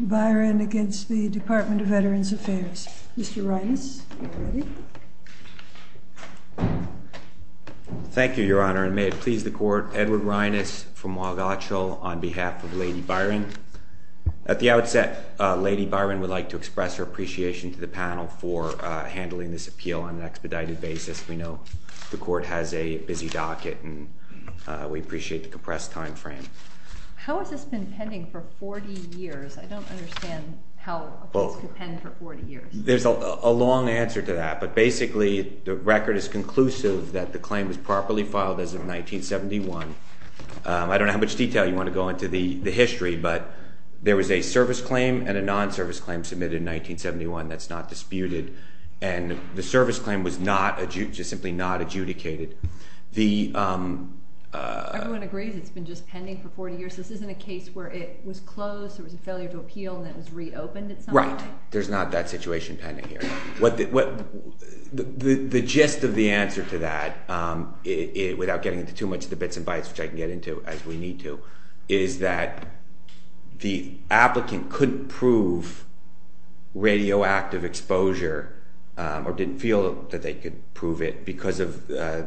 Byron against the Department of Veterans Affairs. Mr. Reines, are you ready? Thank you, Your Honor, and may it please the Court, Edward Reines from Waugatcho on behalf of Lady Byron. At the outset, Lady Byron would like to express her appreciation to the panel for handling this appeal on an expedited basis. We know the Court has a busy docket, and we appreciate the compressed time frame. How has this been pending for 40 years? I don't understand how a case could pen for 40 years. There's a long answer to that, but basically the record is conclusive that the claim was properly filed as of 1971. I don't know how much detail you want to go into the history, but there was a service claim and a non-service claim submitted in 1971 that's not disputed, and the service claim was simply not adjudicated. Everyone agrees it's been just pending for 40 years. This isn't a case where it was closed, there was a failure to appeal, and it was reopened at some point? Right. There's not that situation pending here. The gist of the answer to that, without getting into too much of the bits and bytes, which I can get into as we need to, is that the applicant couldn't prove radioactive exposure, or didn't feel that they could prove it, because of the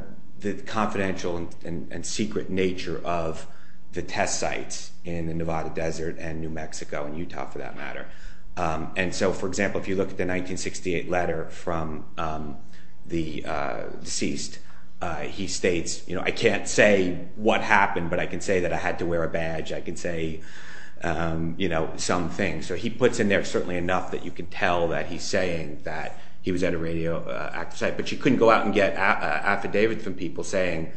confidential and secret nature of the test sites in the Nevada Desert and New Mexico, and Utah for that matter. For example, if you look at the 1968 letter from the deceased, he states, I can't say what happened, but I can say that I had to wear a badge, I can say some things. He puts in there certainly enough that you can tell that he's saying that he was at a radioactive site, but you couldn't go out and get an affidavit from people saying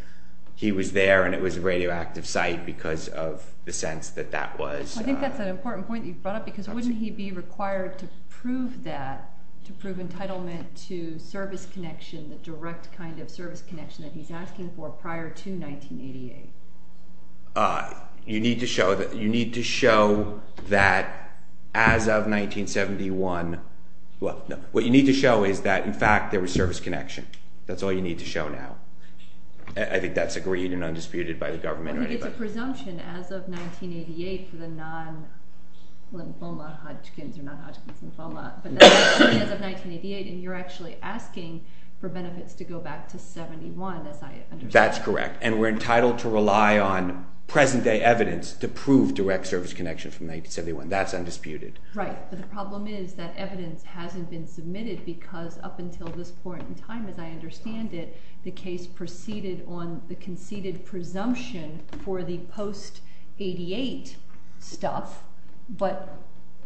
he was there and it was a radioactive site because of the sense that that was... I think that's an important point that you brought up, because wouldn't he be required to prove that, to prove entitlement to service connection, the direct kind of service connection that he's asking for prior to 1988? You need to show that as of 1971, what you need to show is that in fact there was service connection. That's all you need to show now. I think that's agreed and undisputed by the government. I think it's a presumption as of 1988 for the non- lymphoma, Hodgkin's or non-Hodgkin's lymphoma, as of 1988, and you're actually asking for benefits to go back to 71, as I understand. That's correct, and we're entitled to rely on present day evidence to prove direct service connection from 1971. That's undisputed. Right, but the problem is that evidence hasn't been submitted because up until this point in time, as I understand it, the case proceeded on the conceded presumption for the post 88 stuff, but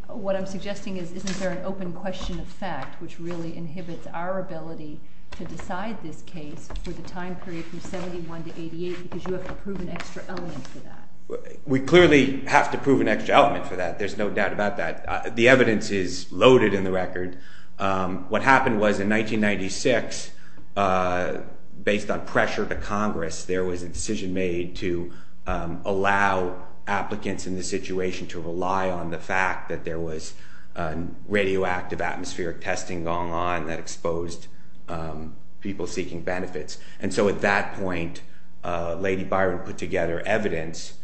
what I'm suggesting is isn't there an open question of fact, which really inhibits our ability to decide this case for the time period from 71 to 88, because you have to prove an extra element for that. We clearly have to prove an extra element for that. There's no doubt about that. The evidence is loaded in the record. What happened was in 1996, based on pressure of the Congress, there was a decision made to allow applicants in this situation to rely on the fact that there was radioactive atmospheric testing going on that exposed people seeking benefits, and so at that point, Lady Byron put together evidence.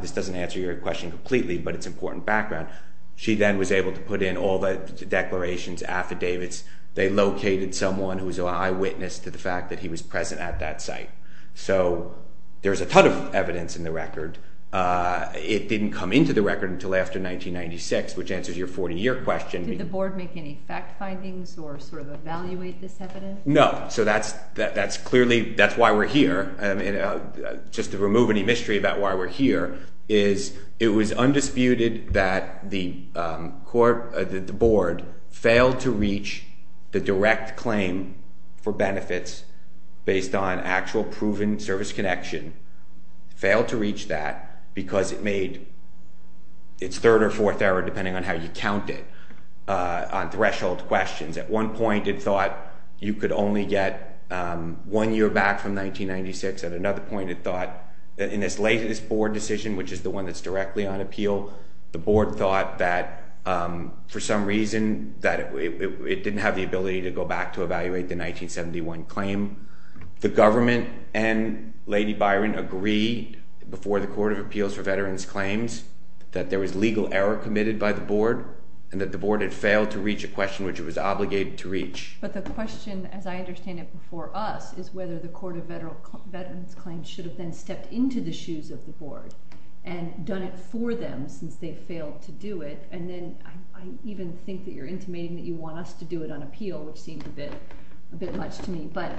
This doesn't answer your question completely, but it's important background. She then was able to put in all the declarations, affidavits. They located someone who was an eyewitness to the fact that he was present at that site. So there's a ton of evidence in the record. It didn't come into the record until after 1996, which answers your 40-year question. Did the board make any fact findings or sort of evaluate this evidence? No. So that's clearly why we're here. Just to remove any mystery about why we're here, it was undisputed that the board failed to reach the direct claim for benefits based on actual proven service connection. It failed to reach that because it made its third or fourth error, depending on how you count it, on threshold questions. At one point, it thought you could only get one year back from 1996. At another point, it thought in its latest board decision, which is the one that's directly on appeal, the board thought that for some reason that it didn't have the ability to go back to evaluate the 1971 claim. The government and Lady Byron agreed before the Court of Appeals for Veterans Claims that there was legal error committed by the board and that the board had failed to reach a question which it was obligated to reach. But the question, as I understand it before us, is whether the Court of Veterans Claims should have then stepped into the shoes of the board and done it for them since they failed to do it. I even think that you're intimating that you want us to do it on appeal, which seems a bit much to me. But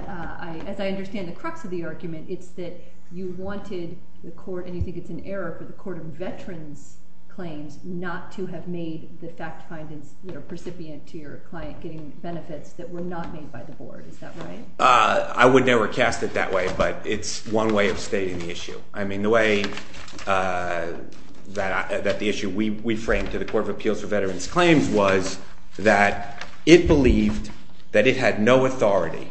as I understand the crux of the argument, it's that you wanted the court, and you think it's an error, for the Court of Veterans Claims not to have made the fact findings that are not made by the board. Is that right? I would never cast it that way, but it's one way of stating the issue. I mean, the way that the issue we framed to the Court of Appeals for Veterans Claims was that it believed that it had no authority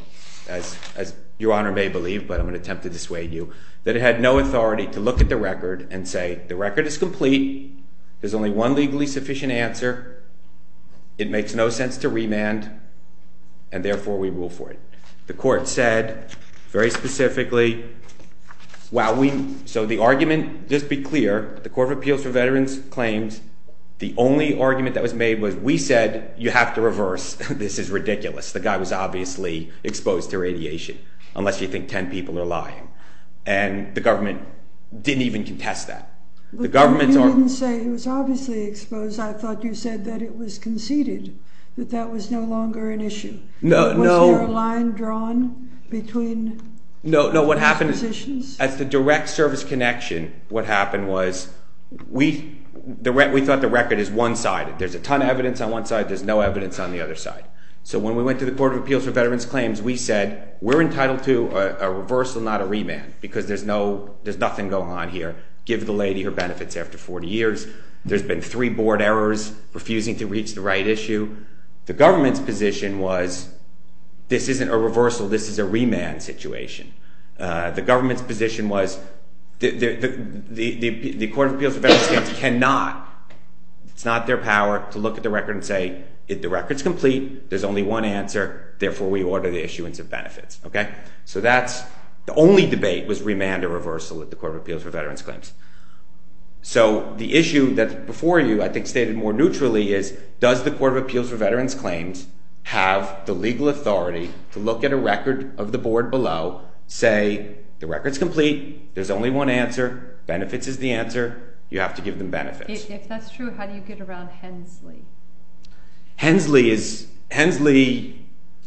as Your Honor may believe, but I'm going to attempt to dissuade you, that it had no authority to look at the record and say the record is complete, there's only one legally sufficient answer, it makes no sense to remand, and therefore we rule for it. The court said very specifically, while we so the argument, just be clear, the Court of Appeals for Veterans Claims the only argument that was made was we said you have to reverse, this is ridiculous, the guy was obviously exposed to radiation, unless you think ten people are lying. And the government didn't even contest that. You didn't say he was obviously exposed, I thought you said that it was conceded, that that was no longer an issue. Was there a line drawn between positions? As the direct service connection, what happened was we thought the record is one-sided. There's a ton of evidence on one side, there's no evidence on the other side. So when we went to the Court of Appeals for Veterans Claims, we said, we're entitled to a reversal, not a remand, because there's no there's nothing going on here. Give the lady her benefits after 40 years. There's been three board errors, refusing to reach the right issue. The government's position was, this isn't a reversal, this is a remand situation. The government's position was the Court of Appeals for Veterans Claims cannot it's not their power to look at the record and say, the record's complete, there's only one answer, therefore we order the issuance of benefits. The only debate was remand or reversal at the Court of Appeals for Veterans Claims. So the issue that before you I think stated more neutrally is, does the Court of Appeals for Veterans Claims have the legal authority to look at a record of the board below, say the record's complete, there's only one answer, benefits is the answer, you have to give them benefits. If that's true, how do you get around Hensley? Hensley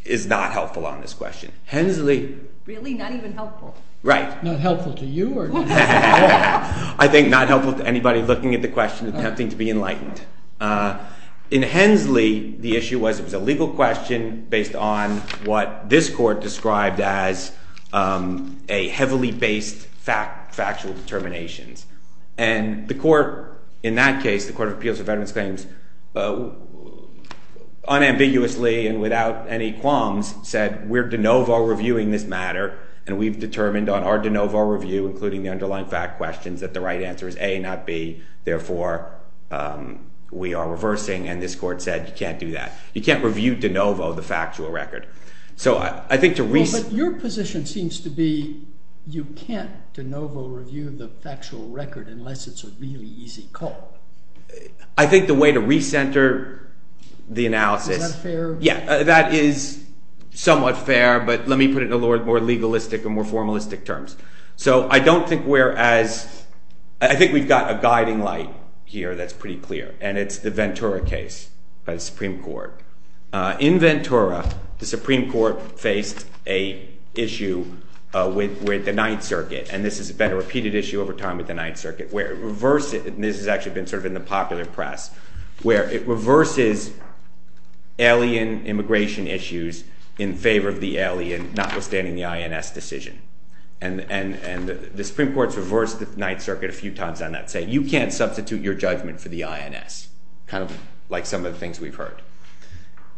is not helpful on this question. Really? Not even helpful? Right. Not helpful to you? I think not helpful to anybody looking at the question attempting to be enlightened. In Hensley, the issue was it was a legal question based on what this Court described as a heavily based factual determinations. And the Court in that case, the Court of Appeals for Veterans Claims unambiguously and without any qualms said, we're de novo reviewing this matter and we've determined on our de novo review, including the underlying fact questions, that the right answer is A, not B. Therefore, we are reversing and this Court said you can't do that. You can't review de novo the factual record. So I think to re... But your position seems to be you can't de novo review the factual record unless it's a really easy call. I think the way to re-center the analysis... Is that fair? Yeah, that is somewhat fair, but let me put it in a more legalistic and more formalistic terms. So I don't think we're as... I think we've got a guiding light here that's pretty clear, and it's the Ventura case by the Supreme Court. In Ventura, the Supreme Court faced a issue with the Ninth Circuit, and this has been a repeated issue over time with the Ninth Circuit, where it reverses, and this has actually been sort of in the popular press, where it reverses alien immigration issues in favor of the alien, notwithstanding the INS decision. And the Supreme Court's reversed the Ninth Circuit a few times on that, saying you can't substitute your judgment for the INS. Kind of like some of the things we've heard.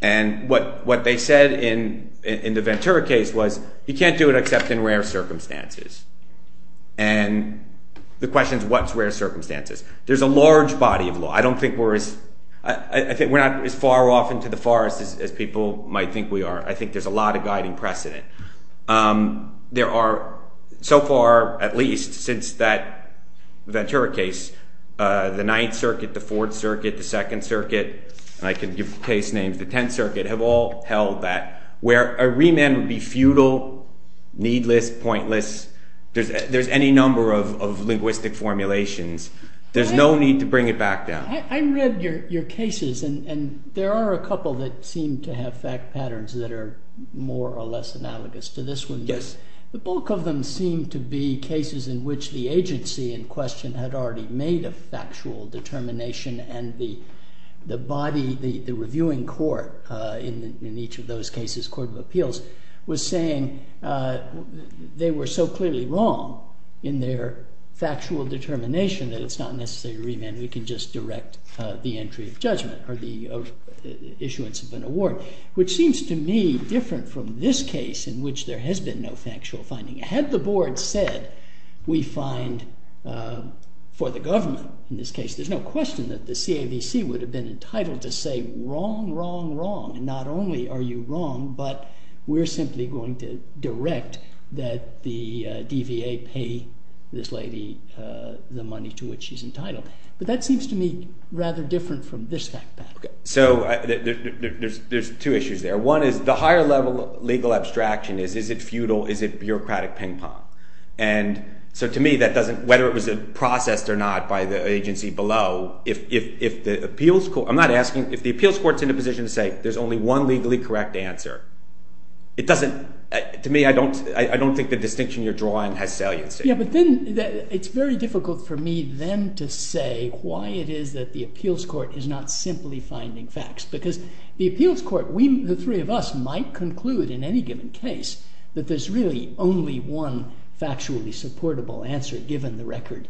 And what they said in the Ventura case was, you can't do it except in rare circumstances. And the question is, what's rare circumstances? There's a large body of law. I don't think we're as... I think we're not as far off into the forest as people might think we are. I think there's a lot of guiding precedent. There are, so far at least, since that Ventura case, the Ninth Circuit, the Fourth Circuit, the Second Circuit, and I could give case names, the Tenth Circuit, have all held that where a remand would be futile, needless, pointless. There's any number of linguistic formulations. There's no need to bring it back down. I read your cases and there are a couple that seem to have fact patterns that are more or less analogous to this one. The bulk of them seem to be cases in which the agency in question had already made a factual determination and the body, the reviewing court in each of those cases, Court of Appeals, was saying they were so clearly wrong in their factual determination that it's not necessary to remand. We can just direct the entry of judgment or the issuance of an award, which seems to me different from this case in which there has been no factual finding. Had the board said we find, for the government in this case, there's no question that the CAVC would have been entitled to say wrong, wrong, wrong, and not only are you wrong, but we're simply going to direct that the DVA pay this she's entitled. But that seems to me rather different from this fact pattern. So there's two issues there. One is the higher level legal abstraction is, is it feudal, is it bureaucratic ping pong? So to me that doesn't, whether it was processed or not by the agency below, if the appeals court, I'm not asking, if the appeals court's in a position to say there's only one legally correct answer, it doesn't to me I don't think the distinction you're drawing has saliency. Yeah, but then it's very difficult for me then to say why it is that the appeals court is not simply finding facts, because the appeals court, we, the three of us, might conclude in any given case that there's really only one factually supportable answer given the record,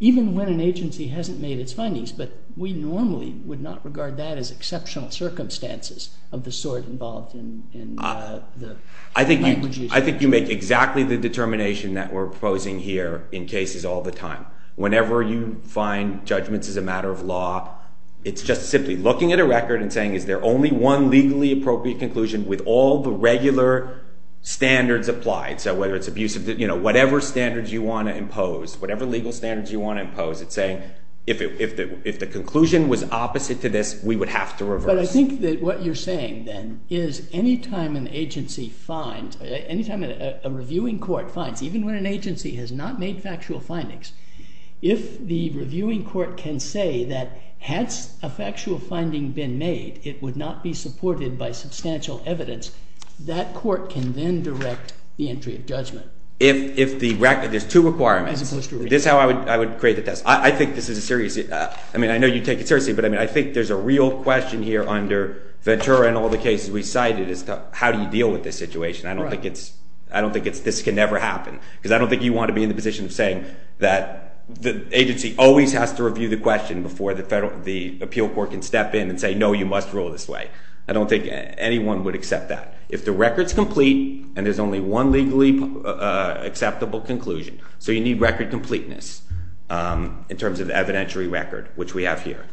even when an agency hasn't made its findings, but we normally would not regard that as exceptional circumstances of the sort involved in the language issue. I think you make exactly the determination that we're proposing here in cases all the time. Whenever you find judgments as a matter of law, it's just simply looking at a record and saying is there only one legally appropriate conclusion with all the regular standards applied, so whether it's abusive, you know, whatever standards you want to impose, whatever legal standards you want to impose, it's saying if the conclusion was opposite to this, we would have to reverse. But I think that what you're saying then is any time an agency finds, any time a reviewing court finds, even when an agency has not made factual findings, if the reviewing court can say that had a factual finding been made, it would not be supported by substantial evidence, that court can then direct the entry of judgment. If the record, there's two requirements, this is how I would create the test. I think this is a serious, I mean, I know you take it seriously, but I mean, I think there's a real question here under Ventura and all the cases we cited is how do you deal with this situation? I don't think it's, I don't think this can ever happen, because I don't think you want to be in the position of saying that the agency always has to review the question before the appeal court can step in and say no, you must rule this way. I don't think anyone would accept that. If the record's complete and there's only one legally acceptable conclusion, so you need record completeness in terms of evidentiary record, which we have here.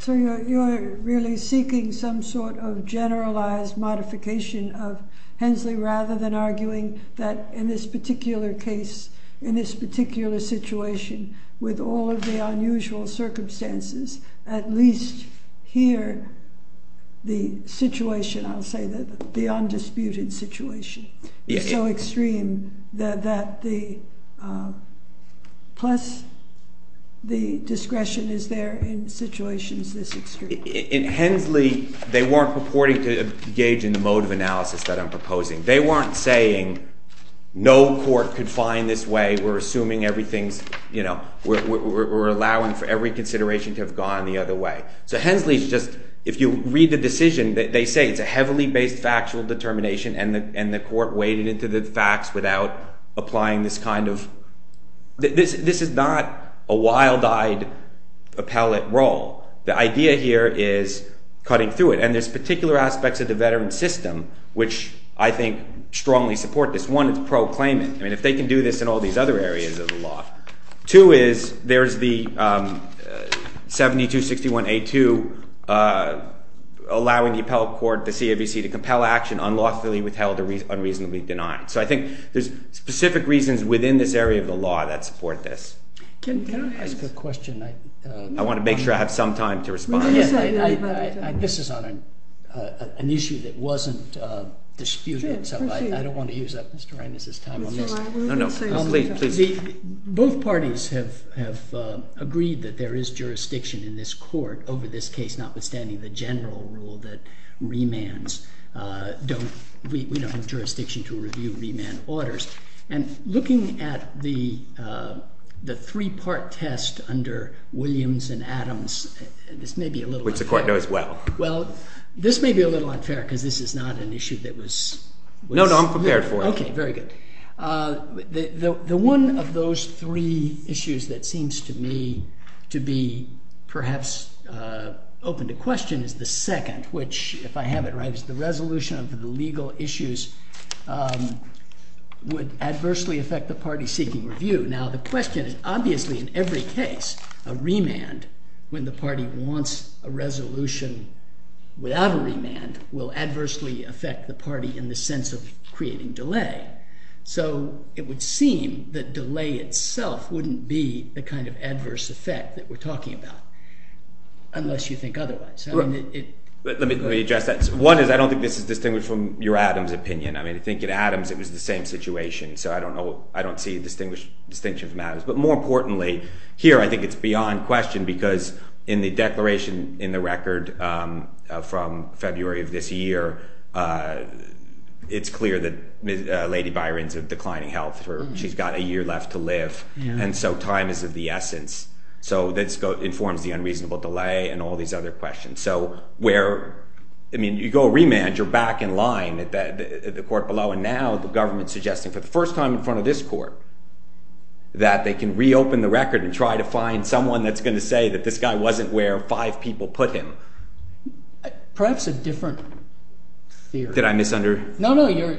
So you're really seeking some sort of generalized modification of Hensley rather than arguing that in this particular case, in this particular situation, with all of the unusual circumstances, at least here, the situation, I'll say the undisputed situation, is so plus the discretion is there in situations this extreme. In Hensley, they weren't purporting to engage in the mode of analysis that I'm proposing. They weren't saying no court could find this way, we're assuming everything's, you know, we're allowing for every consideration to have gone the other way. So Hensley's just if you read the decision, they say it's a heavily based factual determination and the court waded into the facts without applying this kind of, this is not a wild-eyed appellate role. The idea here is cutting through it. And there's particular aspects of the veteran system which I think strongly support this. One, it's pro-claimant. I mean, if they can do this in all these other areas of the law. Two is, there's the 7261A2 allowing the appellate court, the CAVC, to compel action unlawfully withheld or unreasonably denied. So I think there's specific reasons within this area of the law that support this. Can I ask a question? I want to make sure I have some time to respond. This is on an issue that wasn't disputed, so I don't want to use up Mr. Reines' time on this. No, no, please. Both parties have agreed that there is jurisdiction in this court over this case, notwithstanding the general rule that remands don't we don't have jurisdiction to review remand orders. And looking at the three-part test under Williams and Adams, this may be a little unfair. Which the court knows well. This may be a little unfair because this is not an issue that was... No, no, I'm prepared for it. Okay, very good. The one of those three issues that seems to me to be perhaps open to question is the second, which if I have it right is the resolution of the legal issues would adversely affect the party seeking review. Now the question is obviously in every case a remand when the party wants a resolution without a remand will adversely affect the party in the sense of creating delay. So it would seem that delay itself wouldn't be the kind of adverse effect that we're talking about unless you think otherwise. Let me address that. One is I don't think this is distinguished from your Adams opinion. I think in Adams it was the same situation so I don't see a distinction from Adams. But more importantly here I think it's beyond question because in the declaration in the record from February of this year it's clear that Lady Byron's of declining health. She's got a year left to live and so time is of the essence. You go a remand, you're back in line at the court below and now the government's suggesting for the first time in front of this court that they can reopen the record and try to find someone that's going to say that this guy wasn't where five people put him. Perhaps a different theory. Did I misunderstand? No, no, you're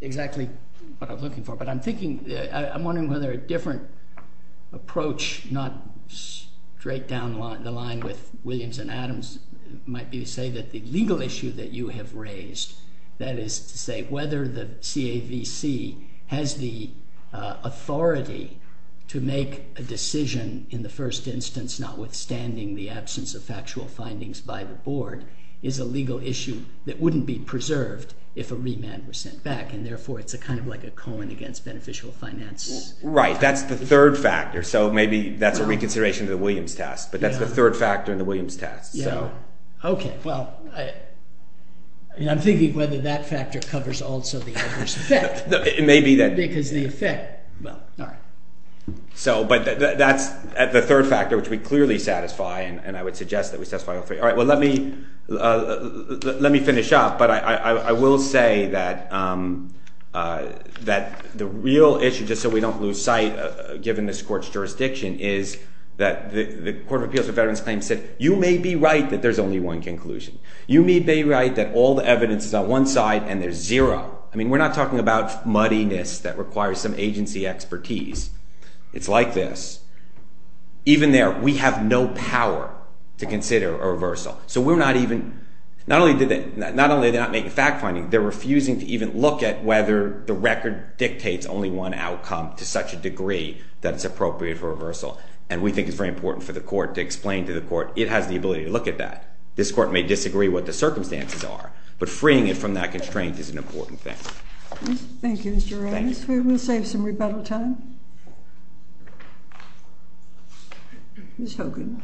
exactly what I'm looking for. But I'm thinking, I'm wondering whether a different approach, not straight down the line with Williams and Adams, might be to say that the legal issue that you have raised, that is to say whether the CAVC has the authority to make a decision in the first instance notwithstanding the absence of factual findings by the board, is a legal issue that wouldn't be preserved if a remand were sent back and therefore it's kind of like a Cohen against beneficial finance. Right, that's the third factor so maybe that's a reconsideration of the Williams test, but that's the third factor in the Williams test. Okay, well, I'm thinking whether that factor covers also the adverse effect. It may be that. Because the effect, well, alright. So, but that's the third factor which we clearly satisfy and I would suggest that we satisfy all three. Alright, well let me finish up, but I will say that the real issue, just so we don't lose sight given this the Court of Appeals for Veterans Claims said, you may be right that there's only one conclusion. You may be right that all the evidence is on one side and there's zero. I mean, we're not talking about muddiness that requires some agency expertise. It's like this. Even there, we have no power to consider a reversal. So we're not even, not only did they not make a fact finding, they're refusing to even look at whether the record dictates only one outcome to such a degree that it's very important for the court to explain to the court, it has the ability to look at that. This court may disagree what the circumstances are, but freeing it from that constraint is an important thing. Thank you, Mr. Rhodes. We will save some rebuttal time. Ms. Hogan.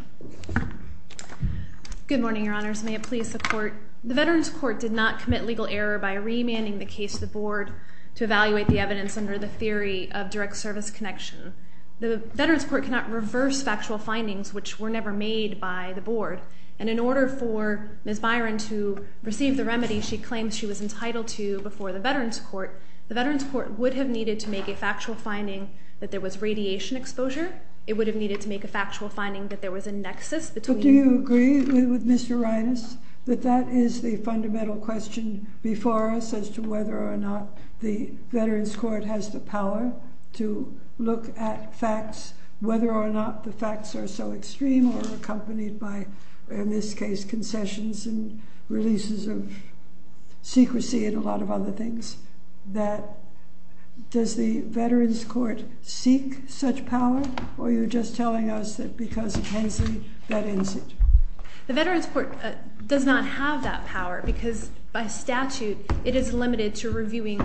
Good morning, Your Honors. May it please the Court. The Veterans Court did not commit legal error by remanding the case to the board to evaluate the evidence under the theory of direct service connection. The Veterans Court cannot reverse factual findings, which were never made by the board. And in order for Ms. Byron to receive the remedy she claims she was entitled to before the Veterans Court, the Veterans Court would have needed to make a factual finding that there was radiation exposure. It would have needed to make a factual finding that there was a nexus between... But do you agree with Mr. Rhinus that that is the fundamental question before us as to whether or not the Veterans Court has the power to look at facts, whether or not the facts are so extreme or accompanied by, in this case, concessions and releases of secrecy and a lot of other things, that does the Veterans Court seek such power or are you just telling us that because of Hensley that ends it? The Veterans Court does not have that power because by statute it is limited to reviewing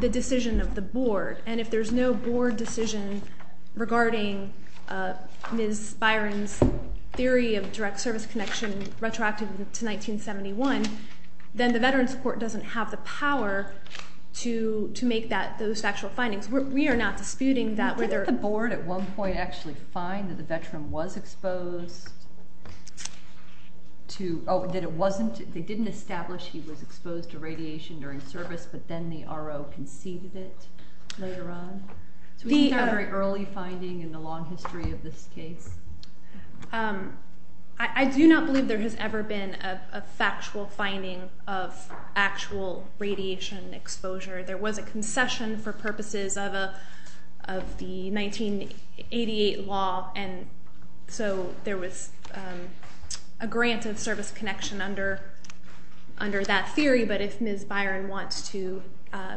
the decision of the board. And if there's no board decision regarding Ms. Byron's theory of direct service connection retroactive to 1971, then the Veterans Court doesn't have the power to make those factual findings. We are not disputing that whether... Didn't the board at one point actually find that the veteran was exposed to... Oh, they didn't establish he was but then the RO conceded it later on? So we have a very early finding in the long history of this case. I do not believe there has ever been a factual finding of actual radiation exposure. There was a concession for purposes of the 1988 law and so there was a granted service connection under that theory but if Ms. Byron wants to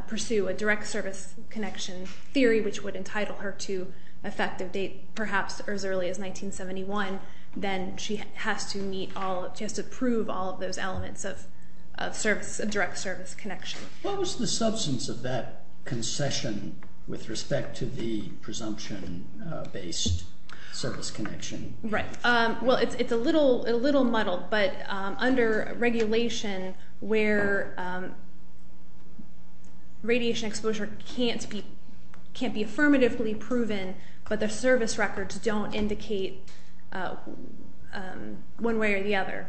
pursue a direct service connection theory which would entitle her to effective date, perhaps as early as 1971, then she has to meet all she has to prove all of those elements of direct service connection. What was the substance of that concession with respect to the presumption based service connection? Right, well it's a little muddled but under regulation where radiation exposure can't be affirmatively proven but the service records don't indicate one way or the other,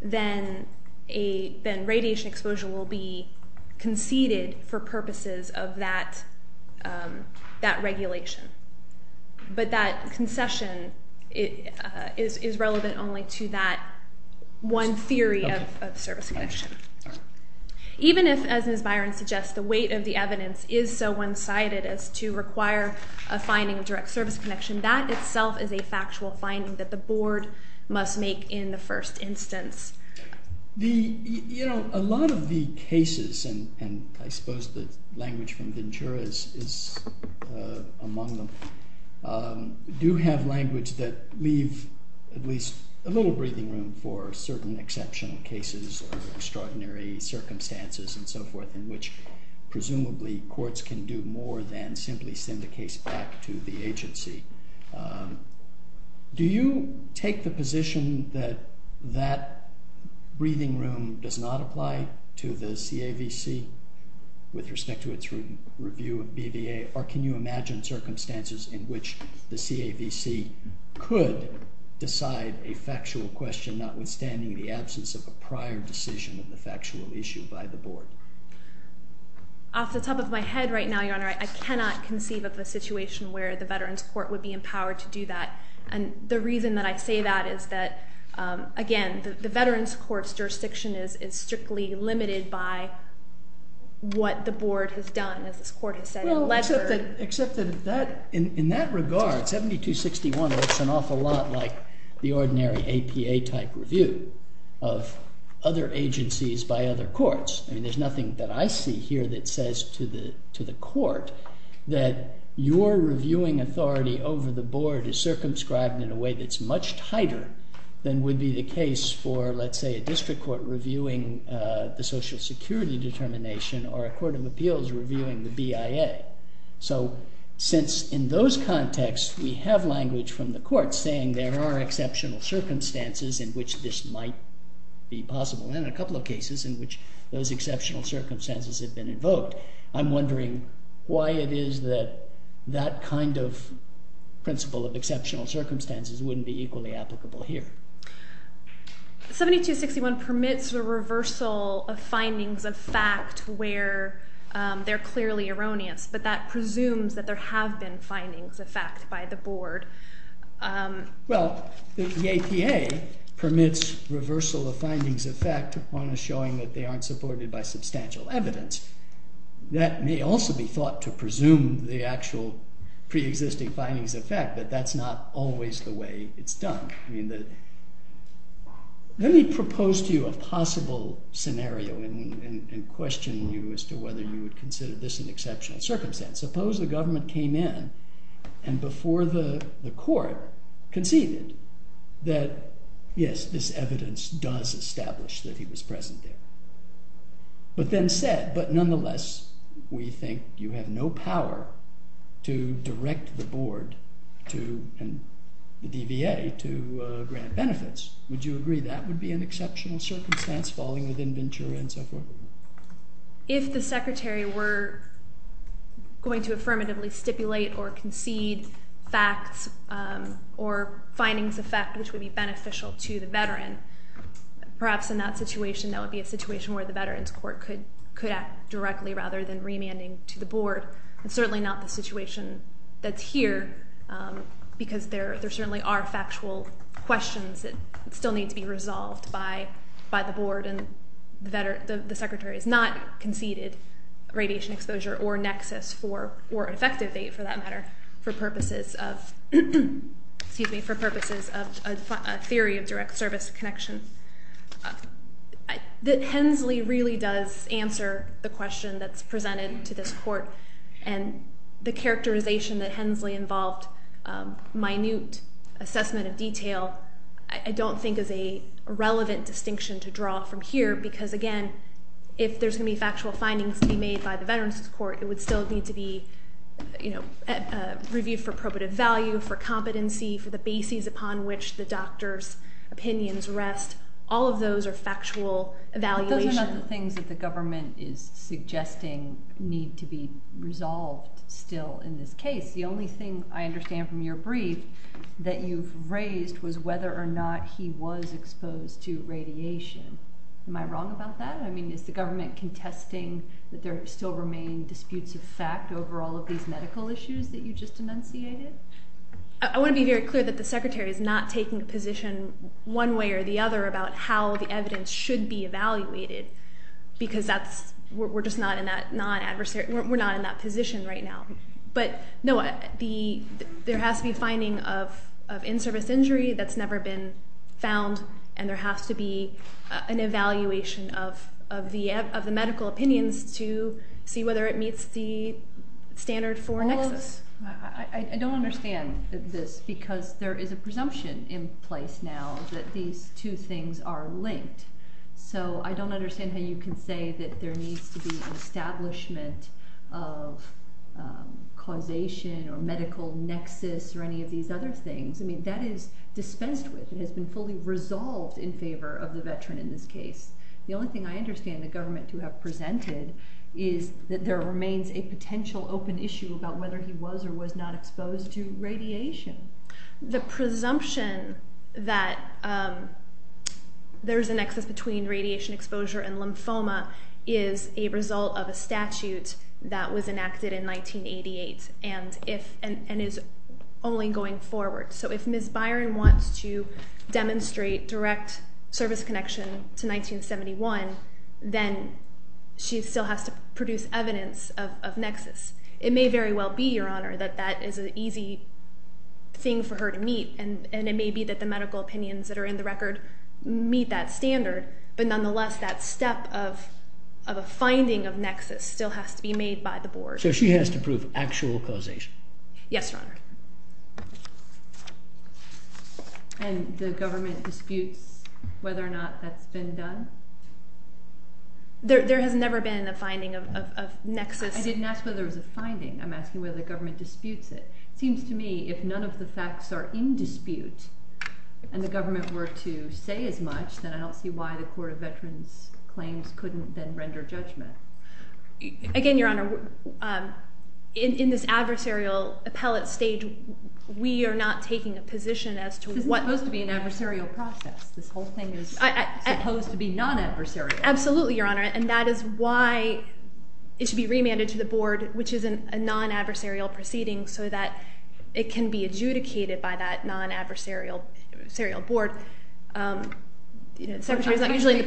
then radiation exposure will be conceded for purposes of that regulation. But that concession is relevant only to that one theory of service connection. Even if, as Ms. Byron suggests, the weight of the evidence is so one-sided as to require a finding of direct service connection, that itself is a factual finding that the board must make in the first instance. You know, a lot of the cases and I suppose the language from Ventura is among them do have language that leave at least a little breathing room for certain exceptional cases or extraordinary circumstances and so forth in which presumably courts can do more than simply send the case back to the agency. Do you take the position that that breathing room does not apply to the CAVC with respect to its review of BVA or can you imagine circumstances in which the CAVC could decide a factual question notwithstanding the absence of a prior decision of the factual issue by the board? Off the top of my head right now, Your Honor, I cannot conceive of a situation where the Veterans Court would be empowered to do that and the reason that I say that is that, again, the Veterans Court's jurisdiction is strictly limited by what the board has done, as this court has said. Except that in that regard, 7261 looks an awful lot like the ordinary APA type review of other agencies by other courts. I mean, there's nothing that I see here that says to the court that your reviewing authority over the board is circumscribed in a way that's much tighter than would be the case for, let's say, a district court reviewing the social security determination or a court of appeals reviewing the BIA. So since in those contexts we have language from the court saying there are exceptional circumstances in which this might be possible and a couple of cases in which those exceptional circumstances have been invoked, I'm wondering why it is that that kind of principle of exceptional circumstances wouldn't be equally applicable here. 7261 permits a reversal of findings of fact where they're clearly erroneous, but that presumes that there have been findings of fact by the board. Well, the APA permits reversal of findings of fact on a showing that they aren't supported by substantial evidence. That may also be thought to presume the actual pre-existing findings of fact, but that's not always the way it's done. Let me propose to you a and question you as to whether you would consider this an exceptional circumstance. Suppose the government came in and before the court conceded that, yes, this evidence does establish that he was present there, but then said, but nonetheless we think you have no power to direct the board and the DVA to grant benefits. Would you agree that would be an exceptional circumstance falling within Ventura and so forth? If the secretary were going to affirmatively stipulate or concede facts or findings of fact which would be beneficial to the veteran, perhaps in that situation that would be a situation where the veterans court could act directly rather than remanding to the board. It's certainly not the situation that's here because there certainly are factual questions that still need to be answered and the secretary has not conceded radiation exposure or nexus or effective date for that matter for purposes of a theory of direct service connection. Hensley really does answer the question that's presented to this court and the characterization that Hensley involved minute assessment of detail I don't think is a relevant distinction to draw from here because again if there's going to be factual findings to be made by the veterans court it would still need to be reviewed for probative value, for competency, for the basis upon which the doctor's opinions rest. All of those are factual evaluation. Those are not the things that the government is suggesting need to be resolved still in this case. The only thing I understand from your brief that you've raised was whether or not he was exposed to radiation. Am I wrong about that? Is the government contesting that there still remain disputes of fact over all of these medical issues that you just enunciated? I want to be very clear that the secretary is not taking a position one way or the other about how the evidence should be evaluated because we're just not in that position right now. There has to be a finding of in-service injury that's never been found and there has to be an evaluation of the medical opinions to see whether it meets the standard for nexus. I don't understand this because there is a presumption in place now that these two things are linked. I don't understand how you can say that there needs to be an establishment of causation or medical nexus or any of these other things. That is dispensed with. It has been fully resolved in favor of the veteran in this case. The only thing I understand the government to have presented is that there remains a potential open issue about whether he was or was not exposed to radiation. The presumption that there's a nexus between radiation exposure and lymphoma is a result of a statute that was enacted in 1988 and is only going forward. So if Ms. Byron wants to demonstrate direct service connection to 1971, then she still has to produce evidence of nexus. It may very well be, Your Honor, that that is an easy thing for her to meet and it may be that the medical opinions that are in the record meet that standard, but nonetheless that step of a finding of nexus still has to be made by the board. So she has to prove actual causation. Yes, Your Honor. And the government disputes whether or not that's been done? There has never been a finding of nexus. I didn't ask whether there was a finding. I'm asking whether the government disputes it. It seems to me if none of the facts are in dispute and the government were to say as much then I don't see why the Court of Veterans Claims couldn't then render judgment. Again, Your Honor, in this adversarial appellate stage, we are not taking a position as to what... This is supposed to be an adversarial process. This whole thing is supposed to be non-adversarial. Absolutely, Your Honor, and that is why it should be remanded to the board, which is a non-adversarial proceeding, so that it can be adjudicated by that non-adversarial board. I'm trying to figure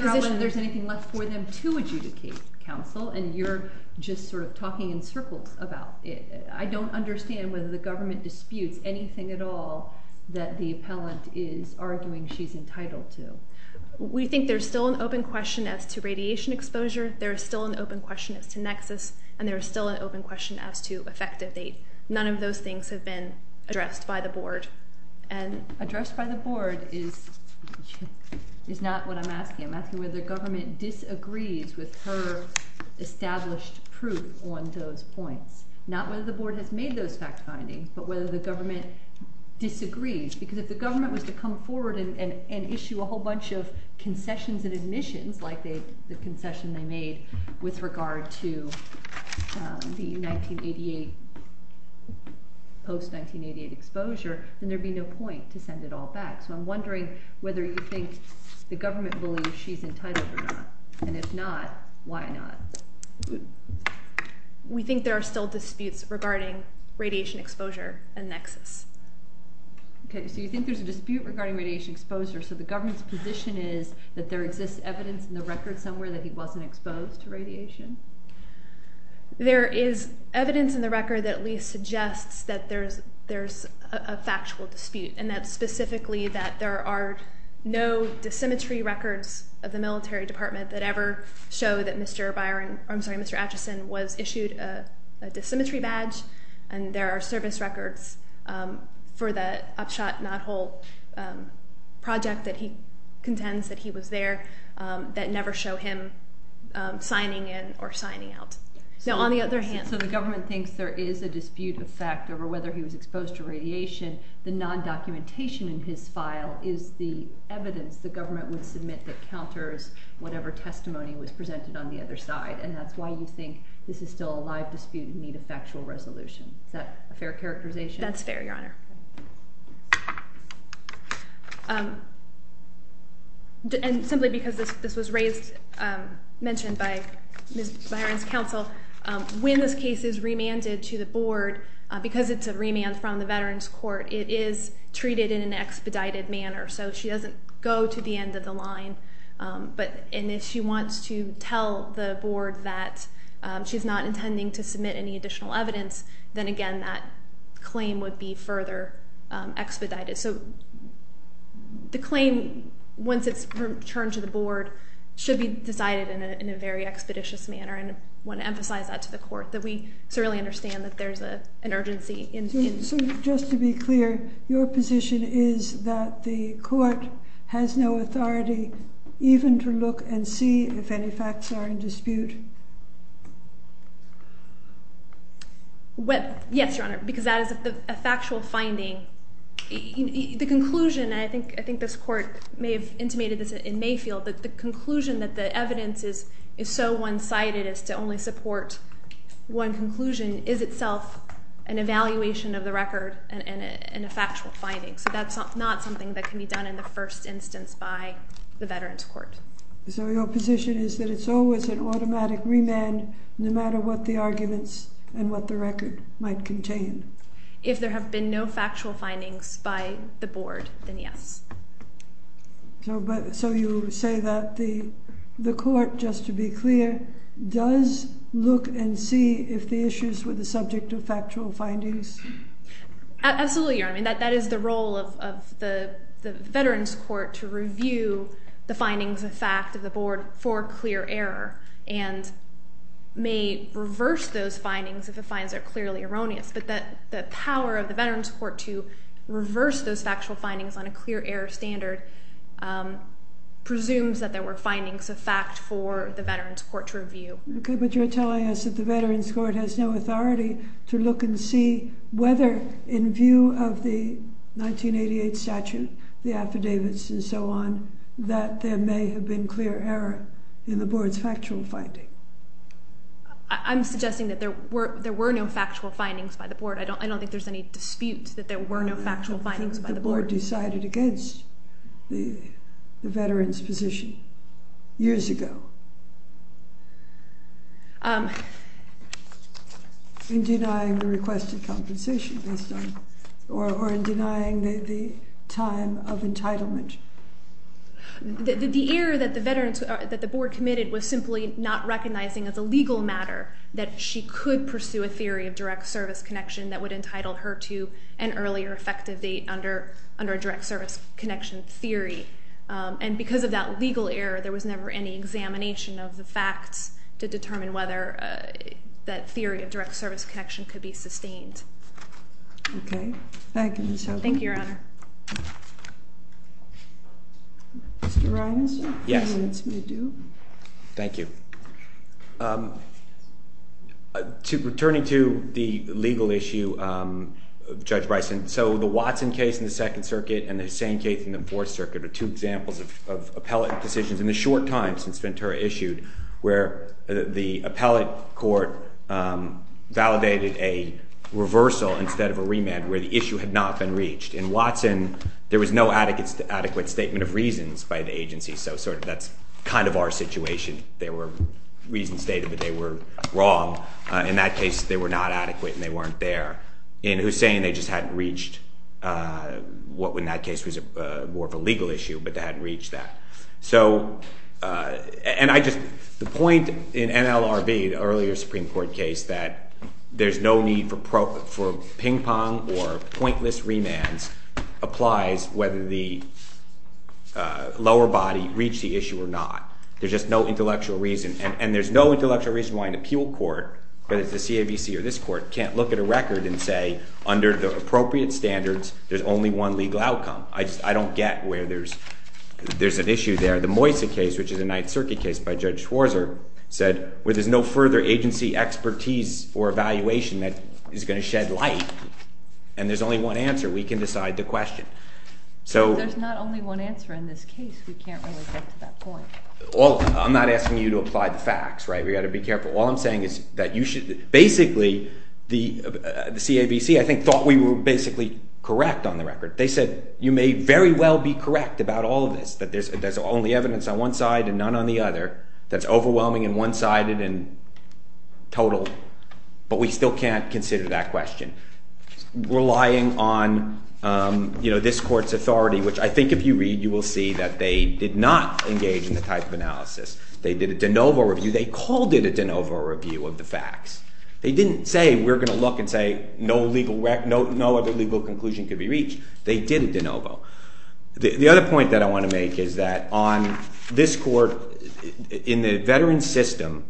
out whether there's anything left for them to adjudicate, counsel, and you're just sort of talking in circles about it. I don't understand whether the government disputes anything at all that the appellant is arguing she's entitled to. We think there's still an open question as to radiation exposure. There's still an open question as to nexus, and there's still an open question as to effective date. None of those things have been addressed by the board. Addressed by the board is not what I'm asking. I'm asking whether the government disagrees with her established proof on those points. Not whether the board has made those fact findings, but whether the government disagrees. Because if the government was to come forward and issue a whole bunch of concessions and admissions like the concession they made with regard to the 1988, post 1988 exposure, then there'd be no point to send it all back. So I'm wondering whether you think the government believes she's entitled or not. And if not, why not? We think there are still disputes regarding radiation exposure and nexus. Okay, so you think there's a dispute regarding radiation exposure, so the government's position is that there exists evidence in the record somewhere that he wasn't exposed to radiation? There is evidence in the record that at least suggests that there's a factual dispute and that specifically that there are no dissymmetry records of the military department that ever show that Mr. Acheson was issued a dissymmetry badge and there are service records for the Upshot Nod Hole project that he contends that he was there that never show him signing in or signing out. The documentation in his file is the evidence the government would submit that counters whatever testimony was presented on the other side and that's why you think this is still a live dispute and need a factual resolution. Is that a fair characterization? That's fair, Your Honor. And simply because this was raised, mentioned by Ms. Byron's counsel when this case is remanded to the board, because it's a remand from the Veterans Court, it is treated in an expedited manner so she doesn't go to the end of the line and if she wants to tell the board that she's not intending to submit any additional evidence, then again that claim would be further expedited. So the claim once it's returned to the board should be decided in a very expeditious manner and I want to emphasize that to the court that we certainly understand that there's an urgency. So just to be clear, your position is that the court has no authority even to look and see if any facts are in dispute? Yes, Your Honor because that is a factual finding. The conclusion and I think this court may have intimated this in Mayfield, that the conclusion that the evidence is so one-sided as to only support one conclusion is itself an evaluation of the record and a factual finding. So that's not something that can be done in the first instance by the Veterans Court. So your position is that it's always an automatic remand no matter what the arguments and what the record might contain? If there have been no factual findings by the board, then yes. So you say that the court, just to be clear, does look and see if the issues were the subject of factual findings? Absolutely, Your Honor. That is the role of the Veterans Court to review the findings of fact of the board for clear error and may reverse those findings if the finds are clearly erroneous. But the power of the Veterans Court to reverse those factual findings on a clear error standard presumes that there were findings of fact for the Veterans Court to review. Okay, but you're telling us that the Veterans Court has no authority to look and see whether in view of the 1988 statute, the affidavits and so on, that there may have been clear error in the board's factual finding. I'm suggesting that there were no factual findings by the board. I don't think there's any dispute that there were no factual findings by the board. The board decided against the board years ago. In denying the requested compensation or in denying the time of entitlement. The error that the board committed was simply not recognizing as a legal matter that she could pursue a theory of direct service connection that would entitle her to an earlier effective date under a direct service connection theory. And because of that legal error, there was never any examination of the facts to determine whether that theory of direct service connection could be sustained. Okay, thank you. Thank you, Your Honor. Mr. Ryanson? Yes. Thank you. Returning to the legal issue, Judge Bryson, so the Watson case in the Second Circuit and the Hussain case in the Fourth Circuit are two examples of appellate decisions in the short time since Ventura issued where the appellate court validated a reversal instead of a remand where the issue had not been reached. In Watson, there was no adequate statement of reasons by the agency, so that's kind of our situation. There were reasons stated, but they were wrong. In that case, they were not adequate and they weren't there. In Hussain, they just hadn't reached what in that case was more of a legal issue, but they hadn't reached that. So, and I just, the point in NLRB, the earlier Supreme Court case, that there's no need for ping pong or pointless remands applies whether the lower body reached the issue or not. There's just no intellectual reason. And there's no intellectual reason why an appeal court, whether it's a CAVC or this court, can't look at a record and say, under the appropriate standards, there's only one legal outcome. I don't get where there's an issue there. The Moysa case, which is a Ninth Circuit case by Judge Schwarzer, said where there's no further agency expertise or evaluation that is going to shed light and there's only one answer, we can decide the question. So... There's not only one answer in this case. We can't really get to that point. I'm not asking you to apply the facts, right? We've got to be careful. All I'm saying is that you should... Basically, the CAVC, I think, thought we were basically correct on the record. They said, you may very well be correct about all of this. That there's only evidence on one side and none on the other. That's overwhelming and one-sided and total. But we still can't consider that question. Relying on this court's authority, which I think if you read, you will see that they did not engage in the type of analysis. They did a de novo review. They called it a fact. They didn't say, we're going to look and say no other legal conclusion could be reached. They did a de novo. The other point that I want to make is that on this court, in the veteran's system,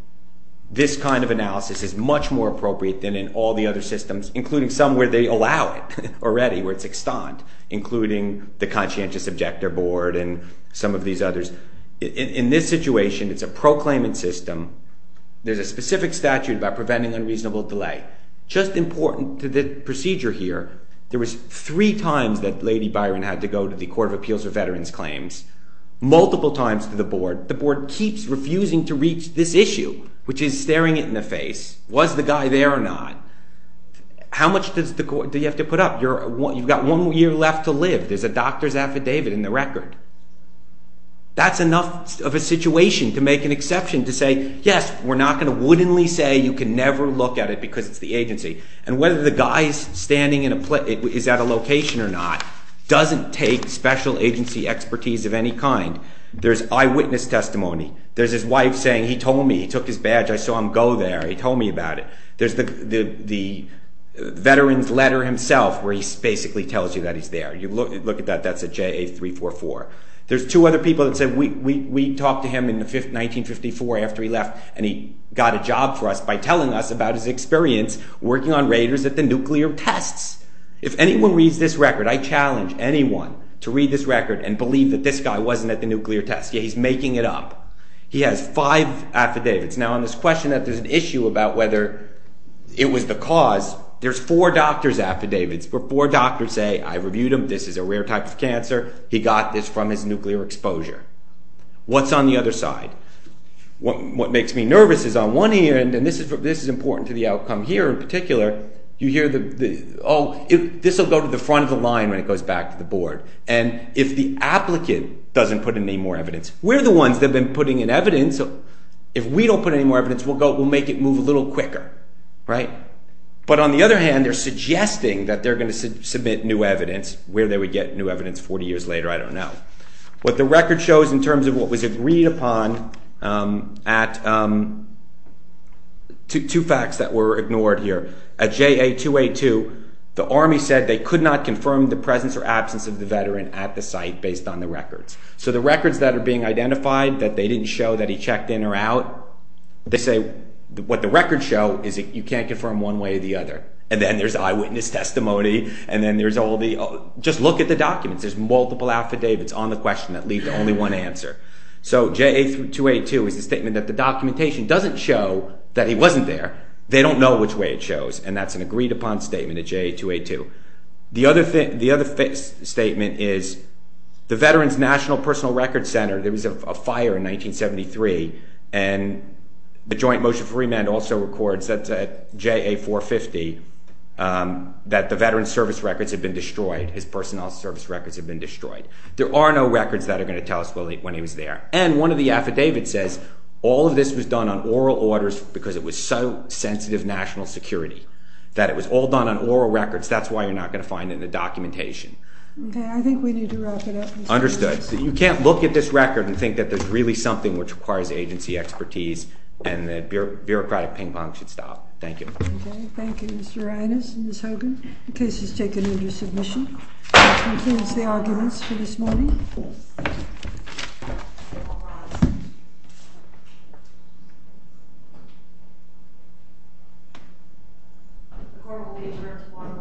this kind of analysis is much more appropriate than in all the other systems, including some where they allow it already, where it's extant, including the conscientious objector board and some of these others. In this situation, it's a proclaimant system. There's a specific statute about preventing unreasonable delay. Just important to the procedure here, there was three times that Lady Byron had to go to the Court of Appeals for Veterans Claims, multiple times to the board. The board keeps refusing to reach this issue, which is staring it in the face. Was the guy there or not? How much do you have to put up? You've got one year left to live. There's a doctor's affidavit in the record. That's enough of a situation to make an exception to say, yes, we're not going to wittingly say you can never look at it because it's the agency. And whether the guy is standing in a location or not doesn't take special agency expertise of any kind. There's eyewitness testimony. There's his wife saying he told me. He took his badge. I saw him go there. He told me about it. There's the veteran's letter himself where he basically tells you that he's there. Look at that. That's a JA-344. There's two other people that said we talked to him in 1954 after he left and he got a job for us by telling us about his experience working on radars at the nuclear tests. If anyone reads this record, I challenge anyone to read this record and believe that this guy wasn't at the nuclear tests. He's making it up. He has five affidavits. Now on this question that there's an issue about whether it was the cause, there's four doctor's affidavits where four doctors say, I reviewed him. This is a rare type of cancer. He got this from his nuclear exposure. What's on the other side? What makes me nervous is on one hand, and this is important to the outcome here in particular, you hear the, oh, this will go to the front of the line when it goes back to the board. And if the applicant doesn't put in any more evidence, we're the ones that have been putting in evidence. If we don't put in any more evidence, we'll make it move a little quicker. But on the other hand, they're suggesting that they're going to submit new evidence where they would get new evidence 40 years later, I don't know. What the record shows in terms of what was agreed upon at two facts that were ignored here. At JA-282, the Army said they could not confirm the presence or absence of the veteran at the site based on the records. So the records that are being identified that they didn't show that he checked in or out, they say what the records show is that you can't confirm one way or the other. And then there's eyewitness testimony and then there's all the, just look at the documents. There's multiple affidavits on the question that lead to only one answer. So JA-282 is the statement that the documentation doesn't show that he wasn't there. They don't know which way it shows. And that's an agreed upon statement at JA-282. The other statement is the Veterans National Personal Records Center, there was a fire in 1973 and the Joint Motion for Remand also records at JA-450 that the veteran's service records had been destroyed, his personnel service records had been destroyed. There are no records that are going to tell us when he was there. And one of the affidavits says all of this was done on oral orders because it was so sensitive national security that it was all done on oral records. That's why you're not going to find it in the documentation. Understood. So you can't look at this record and think that there's really something which requires agency expertise and the bureaucratic ping pong should stop. Thank you. Okay, thank you Mr. Reines and Ms. Hogan. The case is taken into submission. That concludes the arguments for this morning. The court will be adjourned until tomorrow morning at 8 o'clock.